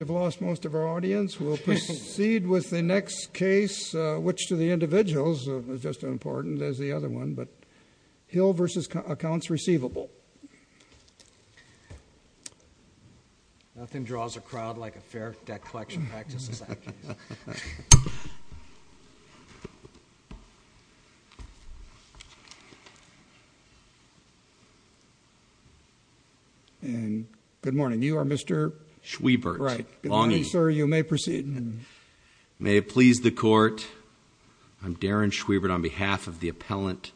We've lost most of our audience. We'll proceed with the next case, which to the individuals is just as important as the other one. Hill v. Accounts Receivable. Nothing draws a crowd like a fair debt collection practice. And good morning. You are Mr. Schwiebert. Right. Good morning, sir. You may proceed. May it please the court. I'm Darren Schwiebert on behalf of the appellant,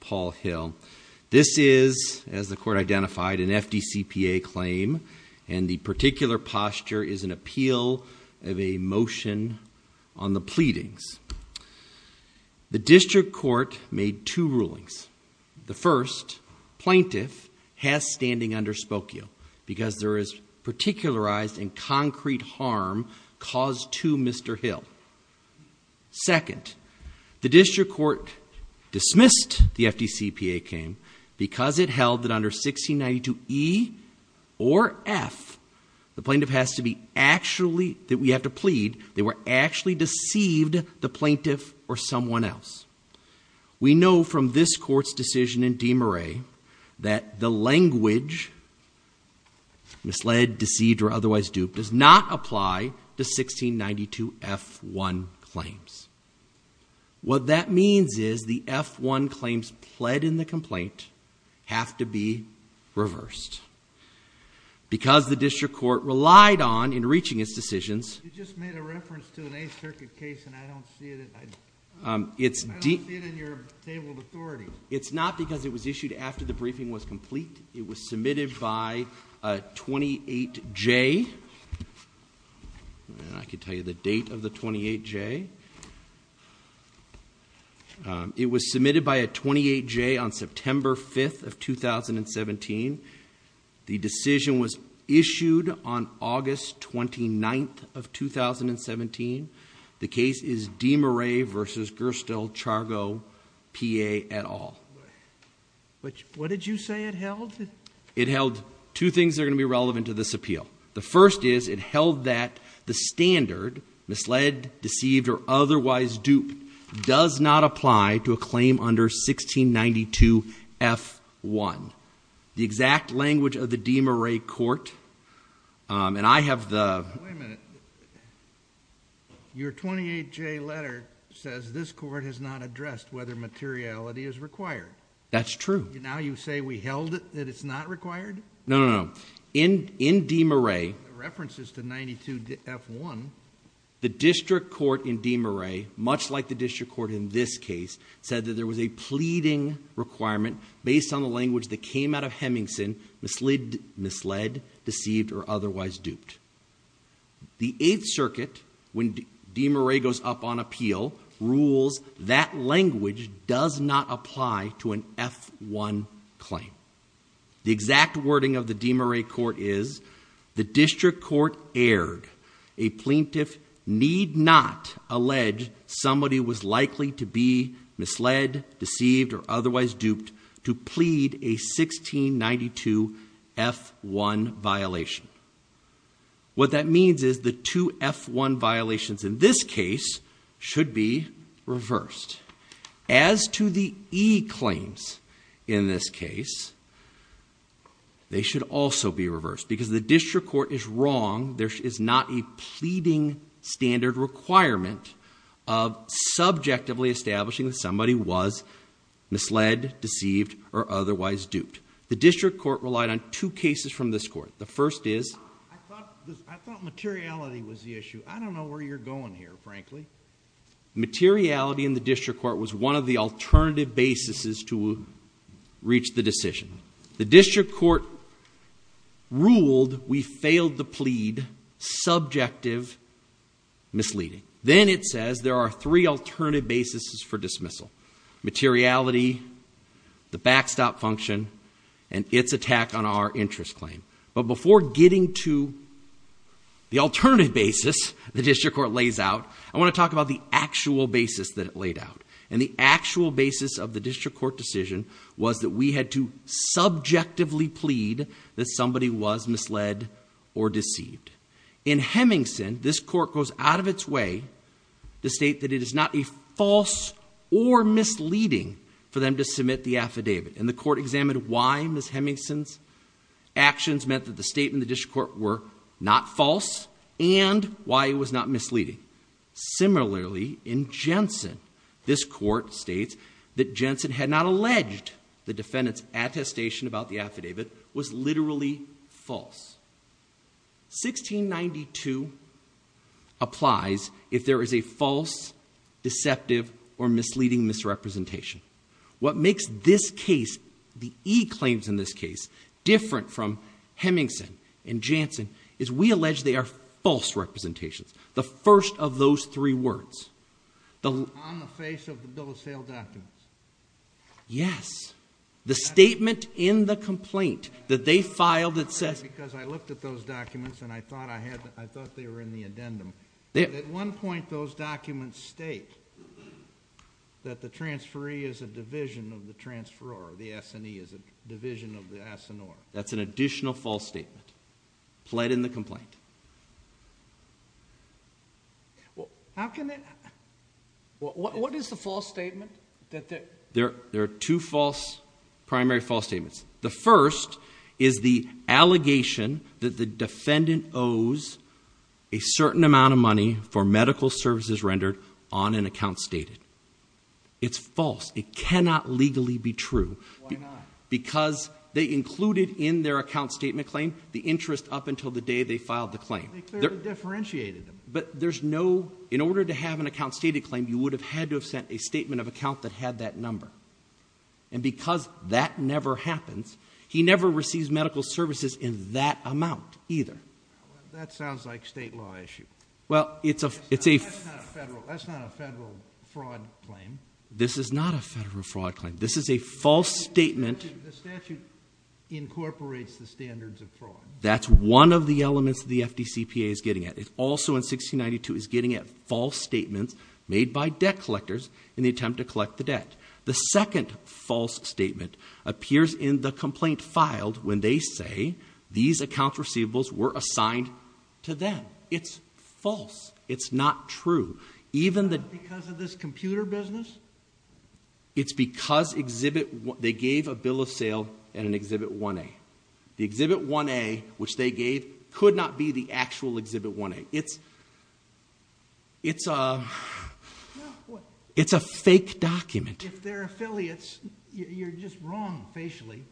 Paul Hill. This is, as the court identified, an FDCPA claim, and the particular posture is an appeal of a motion on the pleadings. The district court made two rulings. The first, plaintiff has standing under Spokio because there is particularized and concrete harm caused to Mr. Hill. Second, the district court dismissed the FDCPA claim because it held that under 1692 E or F, the plaintiff has to be actually, that we have to plead, they were actually deceived the plaintiff or someone else. We know from this court's decision in DeMurray that the language, misled, deceived, or otherwise duped, does not apply to 1692 F1 claims. What that means is the F1 claims pled in the complaint have to be reversed. Because the district court relied on, in reaching its decisions. You just made a reference to an Eighth Circuit case and I don't see it in your tabled authority. It's not because it was issued after the briefing was complete. It was submitted by a 28J. I could tell you the date of the 28J. It was submitted by a 28J on September 5th of 2017. The decision was issued on August 29th of 2017. The case is DeMurray v. Gerstle, Chargo, PA et al. What did you say it held? It held two things that are going to be relevant to this appeal. The first is it held that the standard, misled, deceived, or otherwise duped, does not apply to a claim under 1692 F1. The exact language of the DeMurray court, and I have the- Wait a minute. Your 28J letter says this court has not addressed whether materiality is required. That's true. Now you say we held it that it's not required? No, no, no. In DeMurray- The reference is to 92 F1. The district court in DeMurray, much like the district court in this case, said that there was a pleading requirement based on the language that came out of Hemingson, misled, deceived, or otherwise duped. The Eighth Circuit, when DeMurray goes up on appeal, rules that language does not apply to an F1 claim. The exact wording of the DeMurray court is, The district court erred. A plaintiff need not allege somebody was likely to be misled, deceived, or otherwise duped to plead a 1692 F1 violation. What that means is the two F1 violations in this case should be reversed. As to the E claims in this case, they should also be reversed. Because the district court is wrong. There is not a pleading standard requirement of subjectively establishing that somebody was misled, deceived, or otherwise duped. The district court relied on two cases from this court. The first is- I thought materiality was the issue. I don't know where you're going here, frankly. Materiality in the district court was one of the alternative basis to reach the decision. The district court ruled we failed to plead subjective misleading. Then it says there are three alternative basis for dismissal. Materiality, the backstop function, and its attack on our interest claim. But before getting to the alternative basis the district court lays out, I want to talk about the actual basis that it laid out. And the actual basis of the district court decision was that we had to subjectively plead that somebody was misled or deceived. In Hemingson, this court goes out of its way to state that it is not a false or misleading for them to submit the affidavit. And the court examined why Ms. Hemingson's actions meant that the statement in the district court were not false and why it was not misleading. Similarly, in Jensen, this court states that Jensen had not alleged the defendant's attestation about the affidavit was literally false. 1692 applies if there is a false, deceptive, or misleading misrepresentation. What makes this case, the e-claims in this case, different from Hemingson and Jensen is we allege they are false representations. The first of those three words. On the face of the bill of sale documents. Yes. The statement in the complaint that they filed that says... Because I looked at those documents and I thought they were in the addendum. At one point those documents state that the transferee is a division of the transferor. The S&E is a division of the assenor. That's an additional false statement. Pled in the complaint. How can that... What is the false statement? There are two false, primary false statements. The first is the allegation that the defendant owes a certain amount of money for medical services rendered on an account stated. It's false. It cannot legally be true. Why not? Because they included in their account statement claim the interest up until the day they filed the claim. They clearly differentiated them. But there's no... In order to have an account stated claim, you would have had to have sent a statement of account that had that number. And because that never happens, he never receives medical services in that amount either. That sounds like a state law issue. Well, it's a... That's not a federal fraud claim. This is not a federal fraud claim. This is a false statement. The statute incorporates the standards of fraud. That's one of the elements the FDCPA is getting at. It also in 1692 is getting at false statements made by debt collectors in the attempt to collect the debt. The second false statement appears in the complaint filed when they say these account receivables were assigned to them. It's false. It's not true. Even the... Is that because of this computer business? It's because Exhibit... They gave a bill of sale in an Exhibit 1A. The Exhibit 1A, which they gave, could not be the actual Exhibit 1A. It's... It's a... It's a fake document. If they're affiliates, you're just wrong facially.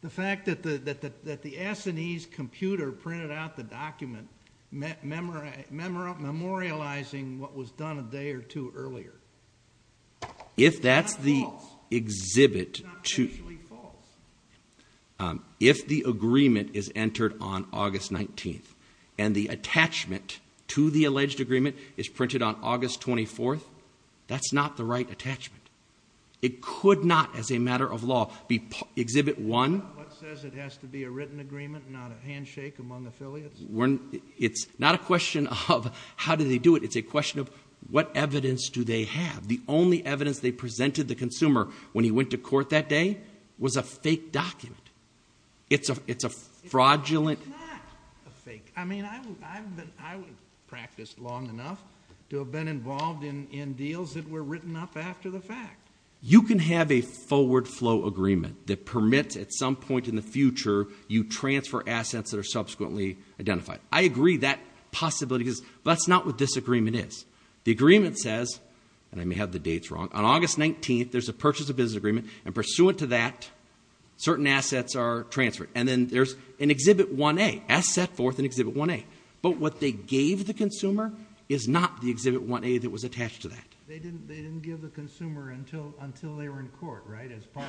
The fact that the S&E's computer printed out the document memorializing what was done a day or two earlier... If that's the Exhibit 2... It's not facially false. If the agreement is entered on August 19th and the attachment to the alleged agreement is printed on August 24th, that's not the right attachment. It could not, as a matter of law, be Exhibit 1... What says it has to be a written agreement, not a handshake among affiliates? It's not a question of how do they do it. It's a question of what evidence do they have. The only evidence they presented the consumer when he went to court that day was a fake document. It's a fraudulent... It's not a fake. I mean, I've been... I've practiced long enough to have been involved in deals that were written up after the fact. You can have a forward flow agreement that permits at some point in the future you transfer assets that are subsequently identified. I agree that possibility is... But that's not what this agreement is. The agreement says, and I may have the dates wrong, on August 19th, there's a purchase of business agreement, and pursuant to that, certain assets are transferred. And then there's an Exhibit 1A, asset forth in Exhibit 1A. But what they gave the consumer is not the Exhibit 1A that was attached to that. They didn't give the consumer until they were in court, right? As part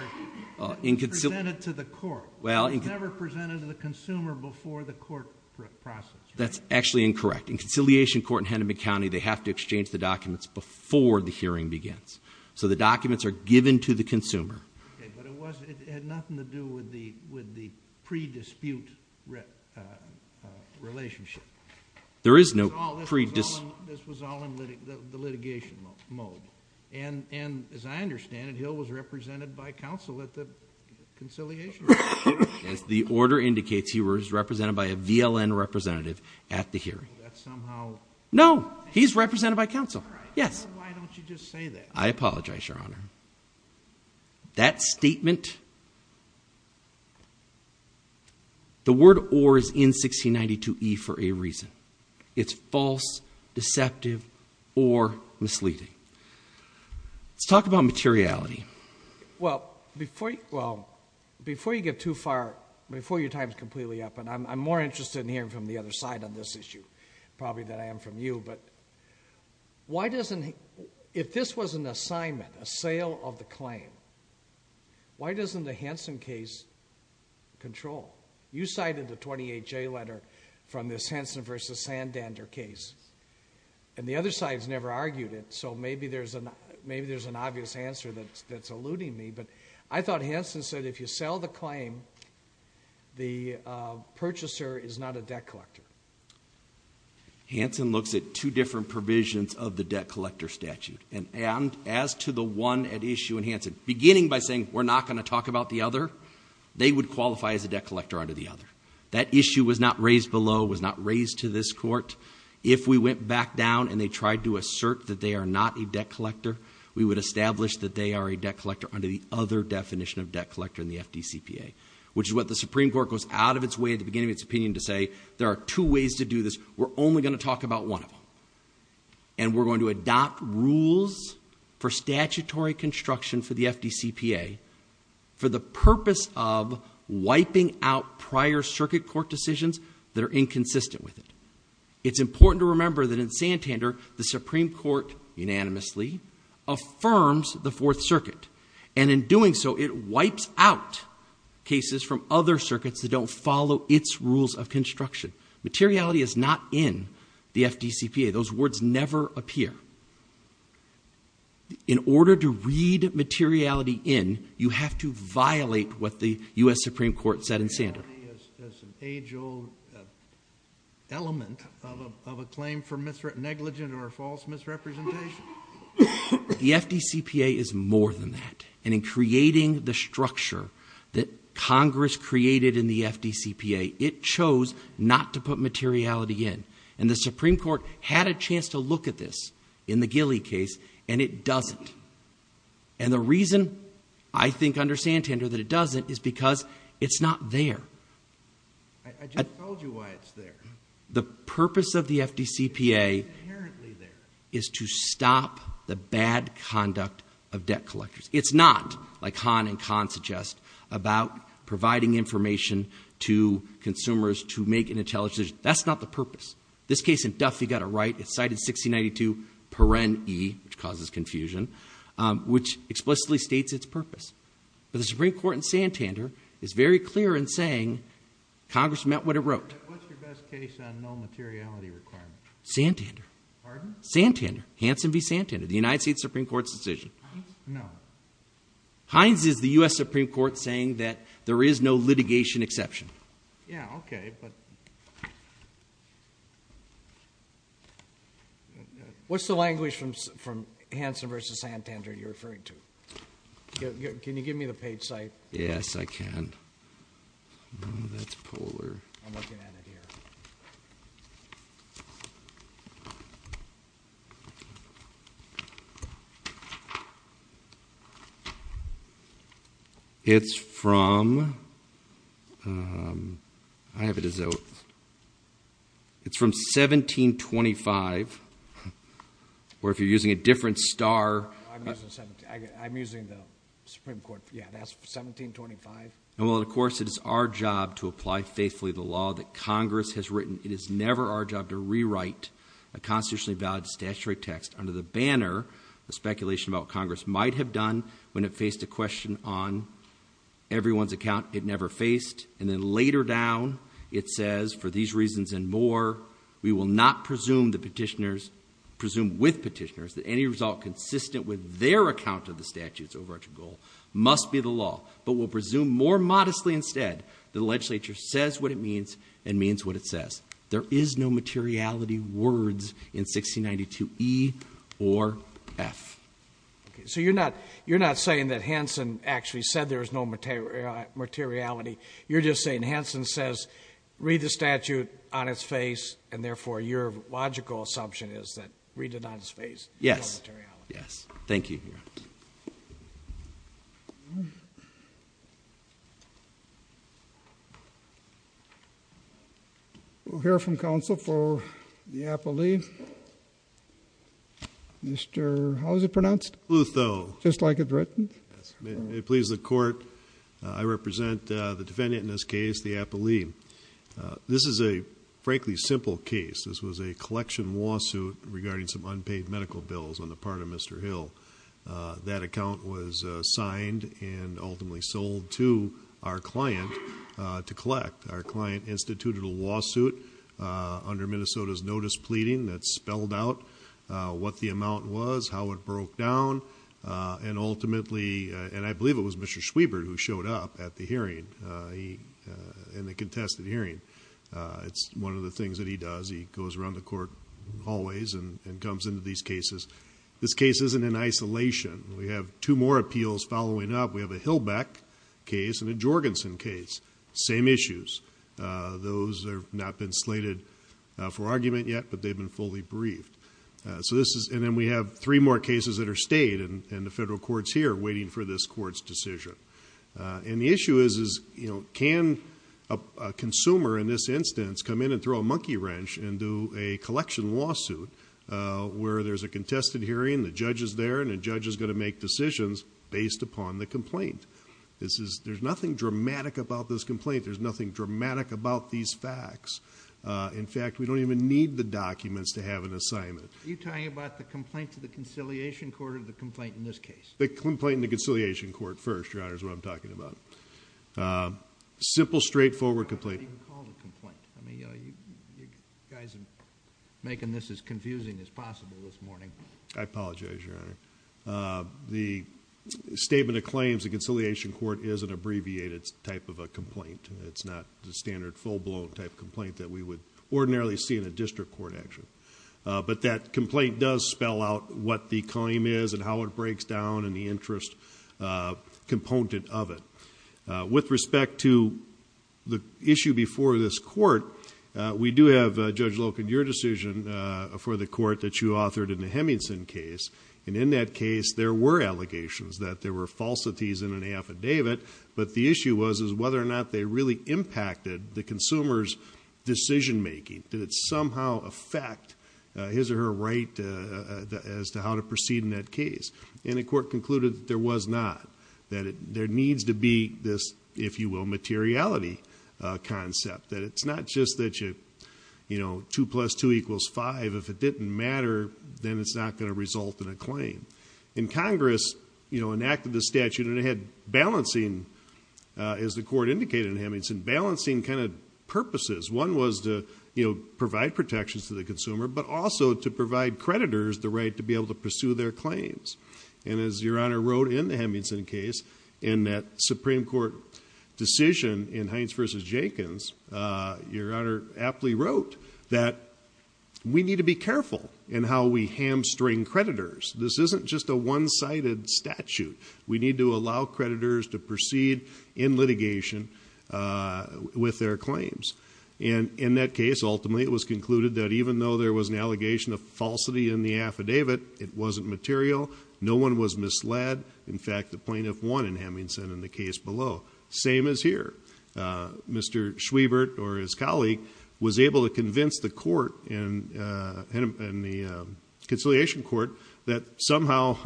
of... Presented to the court. Well... It was never presented to the consumer before the court process. That's actually incorrect. In conciliation court in Henneman County, they have to exchange the documents before the hearing begins. So the documents are given to the consumer. Okay, but it had nothing to do with the pre-dispute relationship. There is no pre-dis... This was all in the litigation mode. And as I understand it, Hill was represented by counsel at the conciliation hearing. As the order indicates, he was represented by a VLN representative at the hearing. That somehow... No, he's represented by counsel. Right. Yes. Why don't you just say that? I apologize, Your Honor. That statement... The word or is in 1692E for a reason. It's false, deceptive, or misleading. Let's talk about materiality. Well, before you get too far, before your time is completely up, and I'm more interested in hearing from the other side on this issue probably than I am from you, but why doesn't... If this was an assignment, a sale of the claim, why doesn't the Hansen case control? You cited the 28J letter from this Hansen v. Sandander case, and the other side's never argued it, so maybe there's an obvious answer that's eluding me, but I thought Hansen said if you sell the claim, the purchaser is not a debt collector. Hansen looks at two different provisions of the debt collector statute, and as to the one at issue in Hansen, beginning by saying we're not going to talk about the other, they would qualify as a debt collector under the other. That issue was not raised below, was not raised to this court. If we went back down and they tried to assert that they are not a debt collector, we would establish that they are a debt collector under the other definition of debt collector in the FDCPA, which is what the Supreme Court goes out of its way at the beginning of its opinion to say there are two ways to do this, we're only going to talk about one of them, and we're going to adopt rules for statutory construction for the FDCPA for the purpose of wiping out prior circuit court decisions that are inconsistent with it. It's important to remember that in Sandander, the Supreme Court unanimously affirms the Fourth Circuit, and in doing so, it wipes out cases from other circuits that don't follow its rules of construction. Materiality is not in the FDCPA. Those words never appear. In order to read materiality in, you have to violate what the U.S. Supreme Court said in Sandander. Materiality is an age-old element of a claim for negligent or false misrepresentation. The FDCPA is more than that, and in creating the structure that Congress created in the FDCPA, it chose not to put materiality in, and the Supreme Court had a chance to look at this in the Gilley case, and it doesn't. And the reason I think under Sandander that it doesn't is because it's not there. I just told you why it's there. The purpose of the FDCPA is to stop the bad conduct of debt collectors. It's not, like Hahn and Kahn suggest, about providing information to consumers to make an intelligent decision. That's not the purpose. This case in Duffy got it right. It's cited 1692 paren e, which causes confusion, which explicitly states its purpose. But the Supreme Court in Sandander is very clear in saying Congress meant what it wrote. What's your best case on no materiality requirement? Sandander. Pardon? Sandander. Hanson v. Sandander. The United States Supreme Court's decision. No. Hines is the U.S. Supreme Court saying that there is no litigation exception. Yeah, okay, but... What's the language from Hanson v. Sandander you're referring to? Can you give me the page site? Yes, I can. Oh, that's polar. I'm looking at it here. It's from 1725, or if you're using a different star... I'm using the Supreme Court, yeah, that's 1725. And while, of course, it is our job to apply faithfully the law that Congress has written, it is never our job to rewrite a constitutionally valid statutory text under the banner of speculation about what Congress might have done when it faced a question on everyone's account it never faced. And then later down, it says, for these reasons and more, we will not presume with petitioners that any result consistent with their account of the statute's overarching goal must be the law, but will presume more modestly instead that the legislature says what it means and means what it says. There is no materiality words in 1692E or F. So you're not saying that Hanson actually said there was no materiality. You're just saying Hanson says read the statute on its face, and therefore your logical assumption is that read it on its face. Yes. There is no materiality. Yes. Thank you. We'll hear from counsel for the appellee. Mr. How is it pronounced? Lutho. Just like it's written? Yes. May it please the Court, I represent the defendant in this case, the appellee. This is a, frankly, simple case. This was a collection lawsuit regarding some unpaid medical bills on the part of Mr. Hill. That account was signed and ultimately sold to our client to collect. Our client instituted a lawsuit under Minnesota's notice pleading that spelled out what the amount was, how it broke down, and ultimately, and I believe it was Mr. Schwiebert who showed up at the hearing, in the contested hearing. It's one of the things that he does. He goes around the court hallways and comes into these cases. This case isn't in isolation. We have two more appeals following up. We have a Hilbeck case and a Jorgensen case. Same issues. Those have not been slated for argument yet, but they've been fully briefed. And then we have three more cases that are stayed in the federal courts here waiting for this court's decision. And the issue is can a consumer in this instance come in and throw a monkey wrench and do a collection lawsuit where there's a contested hearing, the judge is there, and the judge is going to make decisions based upon the complaint. There's nothing dramatic about this complaint. There's nothing dramatic about these facts. In fact, we don't even need the documents to have an assignment. Are you talking about the complaint to the conciliation court or the complaint in this case? The complaint in the conciliation court first, Your Honor, is what I'm talking about. Simple, straightforward complaint. I mean, you guys are making this as confusing as possible this morning. I apologize, Your Honor. The statement of claims in conciliation court is an abbreviated type of a complaint. It's not the standard full-blown type of complaint that we would ordinarily see in a district court action. But that complaint does spell out what the claim is and how it breaks down and the interest component of it. With respect to the issue before this court, we do have, Judge Loken, your decision for the court that you authored in the Hemmingson case. And in that case, there were allegations that there were falsities in an affidavit, but the issue was whether or not they really impacted the consumer's decision-making. Did it somehow affect his or her right as to how to proceed in that case? And the court concluded that there was not. That there needs to be this, if you will, materiality concept. That it's not just that, you know, 2 plus 2 equals 5. If it didn't matter, then it's not going to result in a claim. And Congress, you know, enacted the statute and it had balancing, as the court indicated in Hemmingson, balancing kind of purposes. One was to, you know, provide protections to the consumer, but also to provide creditors the right to be able to pursue their claims. And as your Honor wrote in the Hemmingson case, in that Supreme Court decision in Hines v. Jenkins, your Honor aptly wrote that we need to be careful in how we hamstring creditors. This isn't just a one-sided statute. We need to allow creditors to proceed in litigation with their claims. And in that case, ultimately, it was concluded that even though there was an allegation of falsity in the affidavit, it wasn't material, no one was misled. In fact, the plaintiff won in Hemmingson in the case below. Same as here. Mr. Schwiebert or his colleague was able to convince the court and the conciliation court that somehow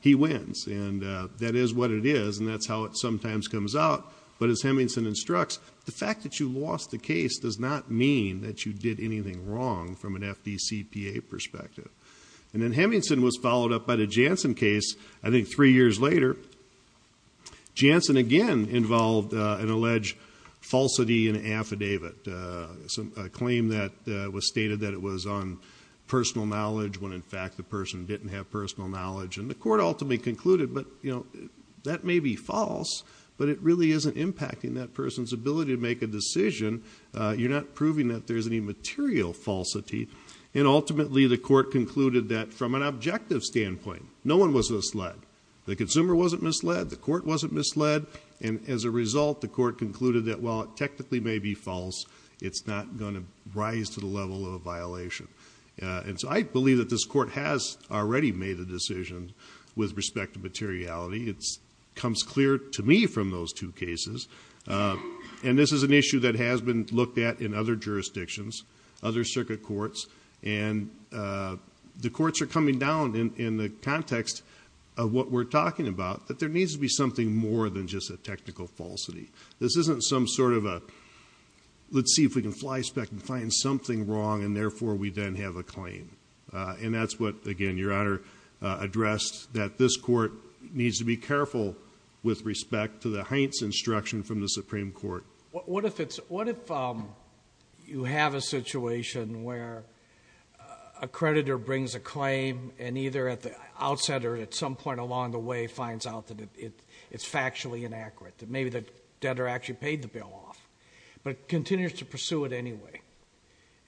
he wins. And that is what it is, and that's how it sometimes comes out. But as Hemmingson instructs, the fact that you lost the case does not mean that you did anything wrong from an FDCPA perspective. And then Hemmingson was followed up by the Janssen case, I think three years later. Janssen, again, involved an alleged falsity in an affidavit, a claim that was stated that it was on personal knowledge when, in fact, the person didn't have personal knowledge. And the court ultimately concluded that may be false, but it really isn't impacting that person's ability to make a decision. You're not proving that there's any material falsity. And ultimately, the court concluded that from an objective standpoint, no one was misled. The consumer wasn't misled. The court wasn't misled. And as a result, the court concluded that while it technically may be false, it's not going to rise to the level of a violation. And so I believe that this court has already made a decision with respect to materiality. It comes clear to me from those two cases. And this is an issue that has been looked at in other jurisdictions, other circuit courts. And the courts are coming down in the context of what we're talking about, that there needs to be something more than just a technical falsity. This isn't some sort of a, let's see if we can flyspeck and find something wrong, and therefore we then have a claim. And that's what, again, Your Honor addressed, that this court needs to be careful with respect to the Heintz instruction from the Supreme Court. What if you have a situation where a creditor brings a claim and either at the outset or at some point along the way finds out that it's factually inaccurate, that maybe the debtor actually paid the bill off, but continues to pursue it anyway.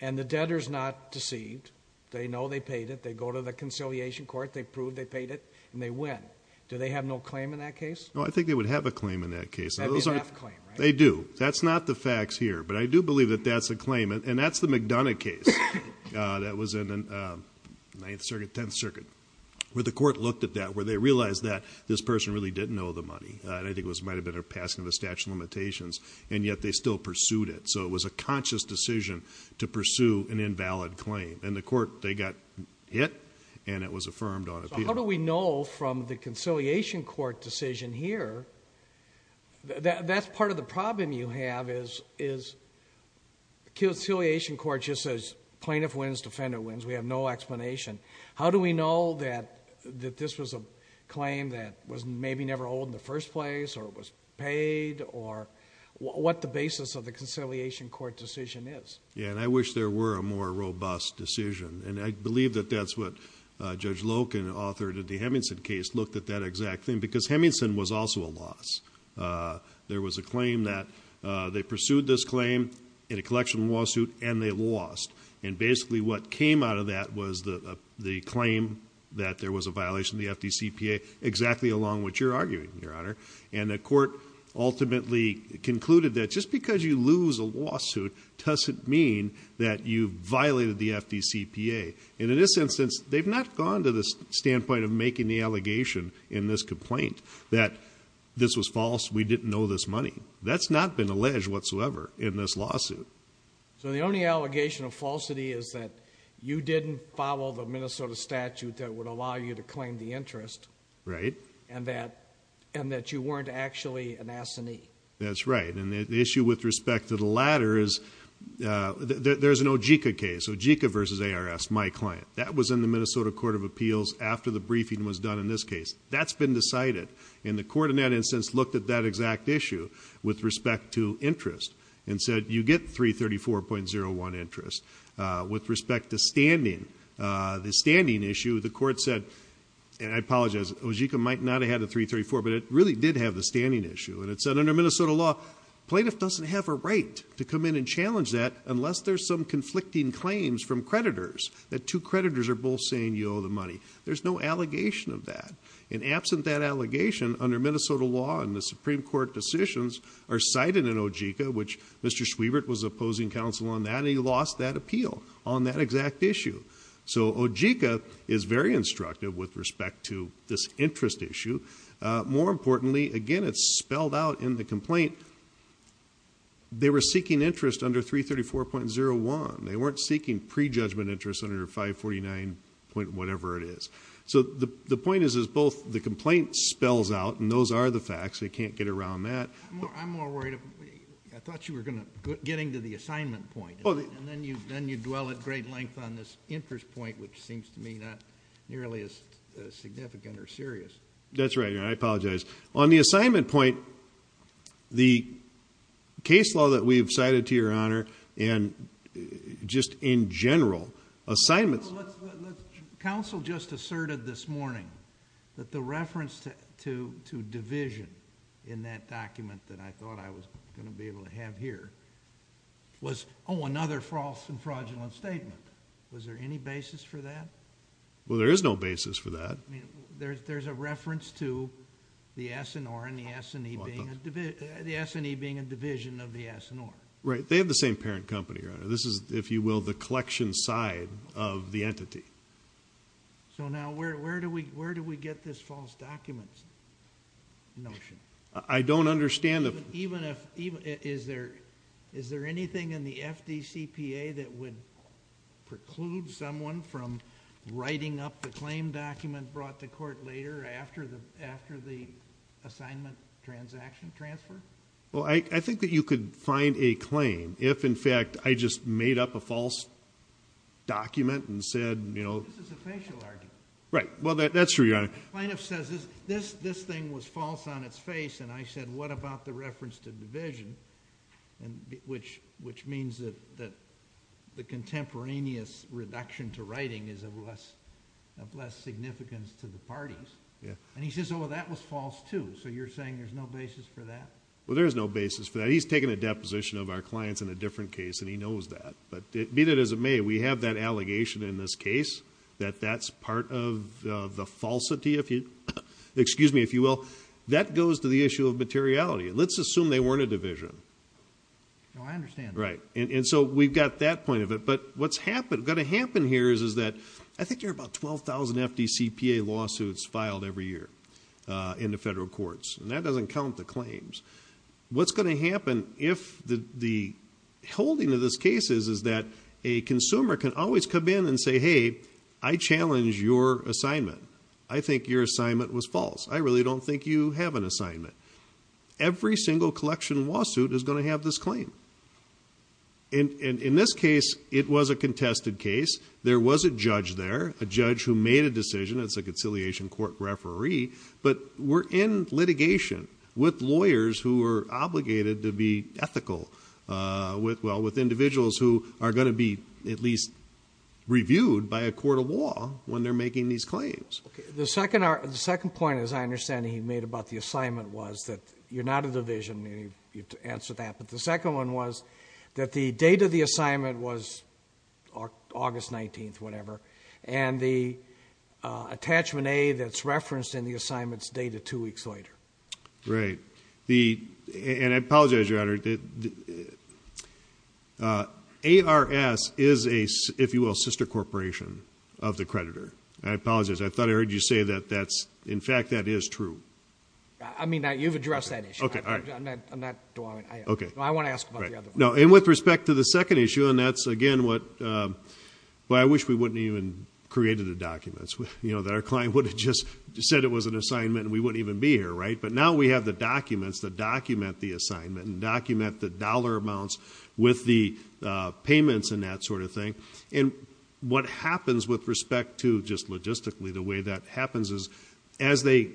And the debtor's not deceived. They know they paid it. They go to the conciliation court. They prove they paid it, and they win. Do they have no claim in that case? No, I think they would have a claim in that case. They have enough claim, right? They do. That's not the facts here. But I do believe that that's a claim, and that's the McDonough case that was in the 9th Circuit, 10th Circuit, where the court looked at that, where they realized that this person really didn't owe the money. And I think it might have been a passing of a statute of limitations, and yet they still pursued it. So it was a conscious decision to pursue an invalid claim. And the court, they got hit, and it was affirmed on appeal. So how do we know from the conciliation court decision here, that that's part of the problem you have, is conciliation court just says plaintiff wins, defender wins. We have no explanation. How do we know that this was a claim that was maybe never owed in the first place, or it was paid, or what the basis of the conciliation court decision is? Yeah, and I wish there were a more robust decision. And I believe that that's what Judge Loken, author of the Hemingson case, looked at that exact thing, because Hemingson was also a loss. There was a claim that they pursued this claim in a collection lawsuit, and they lost. And basically what came out of that was the claim that there was a violation of the FDCPA, exactly along what you're arguing, Your Honor. And the court ultimately concluded that just because you lose a lawsuit doesn't mean that you violated the FDCPA. And in this instance, they've not gone to the standpoint of making the allegation in this complaint that this was false, we didn't owe this money. That's not been alleged whatsoever in this lawsuit. So the only allegation of falsity is that you didn't follow the Minnesota statute that would allow you to claim the interest. Right. And that you weren't actually an assinee. That's right. And the issue with respect to the latter is, there's an OJICA case, OJICA v. ARS, my client. That was in the Minnesota Court of Appeals after the briefing was done in this case. That's been decided, and the court in that instance looked at that exact issue with respect to interest and said, you get 334.01 interest. With respect to standing, the standing issue, the court said, and I apologize, OJICA might not have had a 334, but it really did have the standing issue. And it said under Minnesota law, plaintiff doesn't have a right to come in and challenge that unless there's some conflicting claims from creditors, that two creditors are both saying you owe the money. There's no allegation of that. And absent that allegation, under Minnesota law and the Supreme Court decisions, are cited in OJICA, which Mr. Schwiebert was opposing counsel on that, and he lost that appeal on that exact issue. So OJICA is very instructive with respect to this interest issue. More importantly, again, it's spelled out in the complaint, they were seeking interest under 334.01. They weren't seeking prejudgment interest under 549. whatever it is. So the point is both the complaint spells out, and those are the facts, they can't get around that. I'm more worried, I thought you were going to get into the assignment point, and then you dwell at great length on this interest point, which seems to me not nearly as significant or serious. That's right, Your Honor, I apologize. On the assignment point, the case law that we've cited to Your Honor, and just in general, assignments... Counsel just asserted this morning that the reference to division in that document that I thought I was going to be able to have here was, oh, another false and fraudulent statement. Was there any basis for that? Well, there is no basis for that. There's a reference to the S&R and the S&E being a division of the S&R. This is, if you will, the collection side of the entity. So now where do we get this false documents notion? I don't understand the... Is there anything in the FDCPA that would preclude someone from writing up the claim document brought to court later after the assignment transaction transfer? Well, I think that you could find a claim if, in fact, I just made up a false document and said, you know... This is a facial argument. Right, well, that's true, Your Honor. Planoff says this thing was false on its face, and I said, what about the reference to division, which means that the contemporaneous reduction to writing is of less significance to the parties. And he says, oh, that was false, too. So you're saying there's no basis for that? Well, there is no basis for that. He's taken a deposition of our clients in a different case, and he knows that. But be that as it may, we have that allegation in this case, that that's part of the falsity, if you will. That goes to the issue of materiality. Let's assume they weren't a division. Oh, I understand. Right, and so we've got that point of it. But what's going to happen here is that I think there are about 12,000 FDCPA lawsuits filed every year in the federal courts, and that doesn't count the claims. What's going to happen if the holding of this case is that a consumer can always come in and say, hey, I challenge your assignment. I think your assignment was false. I really don't think you have an assignment. Every single collection lawsuit is going to have this claim. In this case, it was a contested case. There was a judge there, a judge who made a decision. It's a conciliation court referee. But we're in litigation with lawyers who are obligated to be ethical with individuals who are going to be at least reviewed by a court of law when they're making these claims. The second point, as I understand it, he made about the assignment was that you're not a division. You have to answer that. But the second one was that the date of the assignment was August 19th, whatever, and the attachment A that's referenced in the assignment is dated two weeks later. Right. And I apologize, Your Honor. ARS is a, if you will, sister corporation of the creditor. I apologize. I thought I heard you say that that's, in fact, that is true. I mean, you've addressed that issue. I want to ask about the other one. And with respect to the second issue, and that's, again, what, I wish we wouldn't have even created the documents, that our client would have just said it was an assignment and we wouldn't even be here. But now we have the documents that document the assignment and document the dollar amounts with the payments and that sort of thing. And what happens with respect to just logistically the way that happens is as they,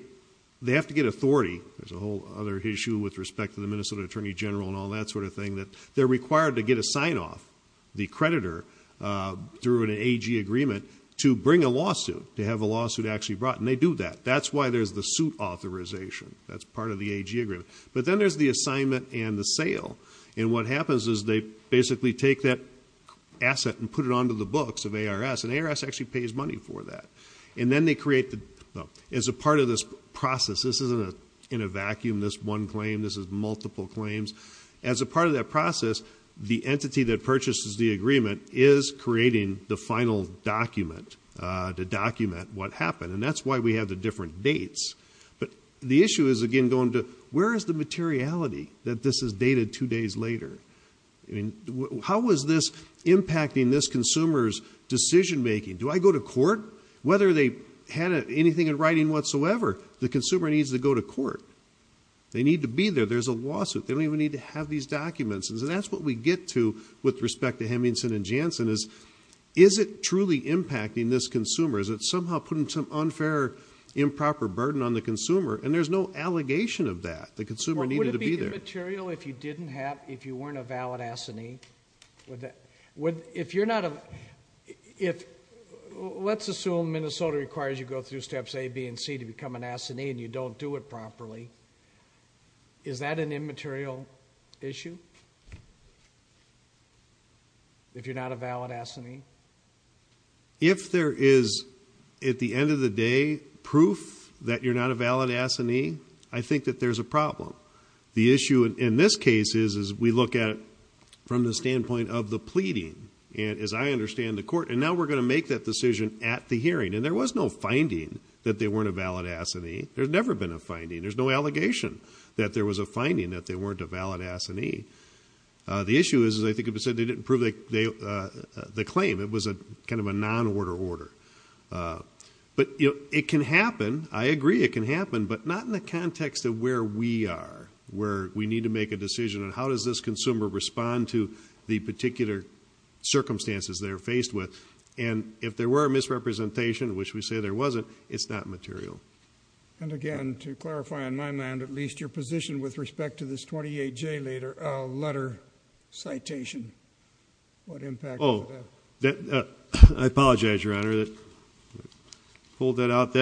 they have to get authority. There's a whole other issue with respect to the Minnesota Attorney General and all that sort of thing that they're required to get a sign-off, the creditor, through an AG agreement to bring a lawsuit, to have a lawsuit actually brought. And they do that. That's why there's the suit authorization. That's part of the AG agreement. But then there's the assignment and the sale. And what happens is they basically take that asset and put it onto the books of ARS, and ARS actually pays money for that. And then they create the, well, as a part of this process, this isn't in a vacuum, this one claim, this is multiple claims. As a part of that process, the entity that purchases the agreement is creating the final document to document what happened. And that's why we have the different dates. But the issue is, again, going to where is the materiality that this is dated two days later? How is this impacting this consumer's decision-making? Do I go to court? Whether they had anything in writing whatsoever, the consumer needs to go to court. They need to be there. There's a lawsuit. They don't even need to have these documents. And so that's what we get to with respect to Hemmingson & Jansen is, is it truly impacting this consumer? Is it somehow putting some unfair improper burden on the consumer? And there's no allegation of that. The consumer needed to be there. Would it be immaterial if you didn't have, if you weren't a valid assinee? If you're not a, if, let's assume Minnesota requires you go through steps A, B, and C to become an assinee and you don't do it properly, is that an immaterial issue? If you're not a valid assinee? If there is, at the end of the day, proof that you're not a valid assinee, I think that there's a problem. The issue in this case is, is we look at it from the standpoint of the pleading. And as I understand the court, and now we're going to make that decision at the hearing. And there was no finding that they weren't a valid assinee. There's never been a finding. There's no allegation that there was a finding that they weren't a valid assinee. The issue is, as I think it was said, they didn't prove the claim. It was a kind of a non-order order. But, you know, it can happen. I agree it can happen. But not in the context of where we are, where we need to make a decision on how does this consumer respond to the particular circumstances they're faced with. And if there were a misrepresentation, which we say there wasn't, it's not material. And, again, to clarify on my end, at least your position with respect to this 28J letter citation. I apologize, Your Honor. Hold that out.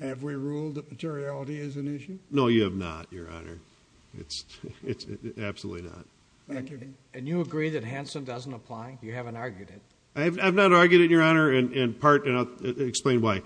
Have we ruled that materiality is an issue? No, you have not, Your Honor. It's absolutely not. Thank you. And you agree that Hansen doesn't apply? You haven't argued it. I have not argued it, Your Honor. And I'll explain why.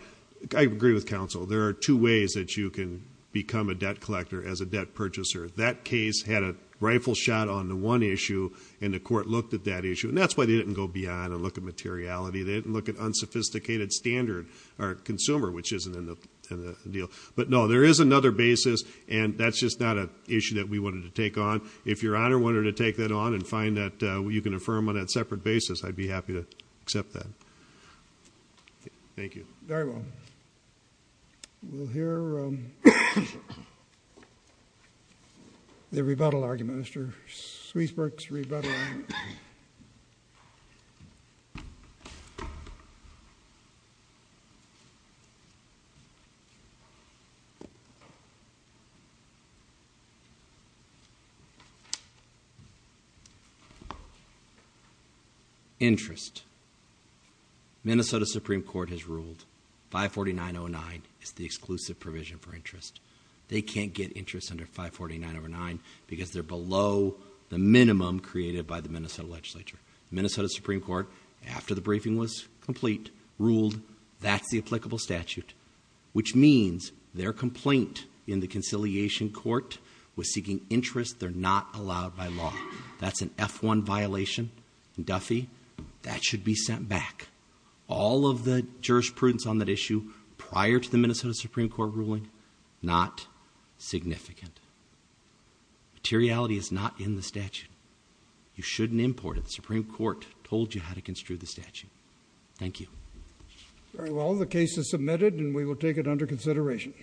I agree with counsel. There are two ways that you can become a debt collector as a debt purchaser. That case had a rifle shot on the one issue, and the court looked at that issue. And that's why they didn't go beyond and look at materiality. They didn't look at unsophisticated standard or consumer, which isn't in the deal. But, no, there is another basis, and that's just not an issue that we wanted to take on. If Your Honor wanted to take that on and find that you can affirm on that separate basis, I'd be happy to accept that. Thank you. Very well. We'll hear the rebuttal argument, Mr. Sweetsburg's rebuttal argument. Interest. Minnesota Supreme Court has ruled 549.09 is the exclusive provision for interest. They can't get interest under 549.09 because they're below the minimum created by the Minnesota legislature. Minnesota Supreme Court, after the briefing was complete, ruled that's the applicable statute, which means their complaint in the conciliation court was seeking interest. They're not allowed by law. That's an F-1 violation. Duffy, that should be sent back. All of the jurisprudence on that issue prior to the Minnesota Supreme Court ruling, not significant. Materiality is not in the statute. You shouldn't import it. The Supreme Court told you how to construe the statute. Thank you. Very well. The case is submitted, and we will take it under consideration.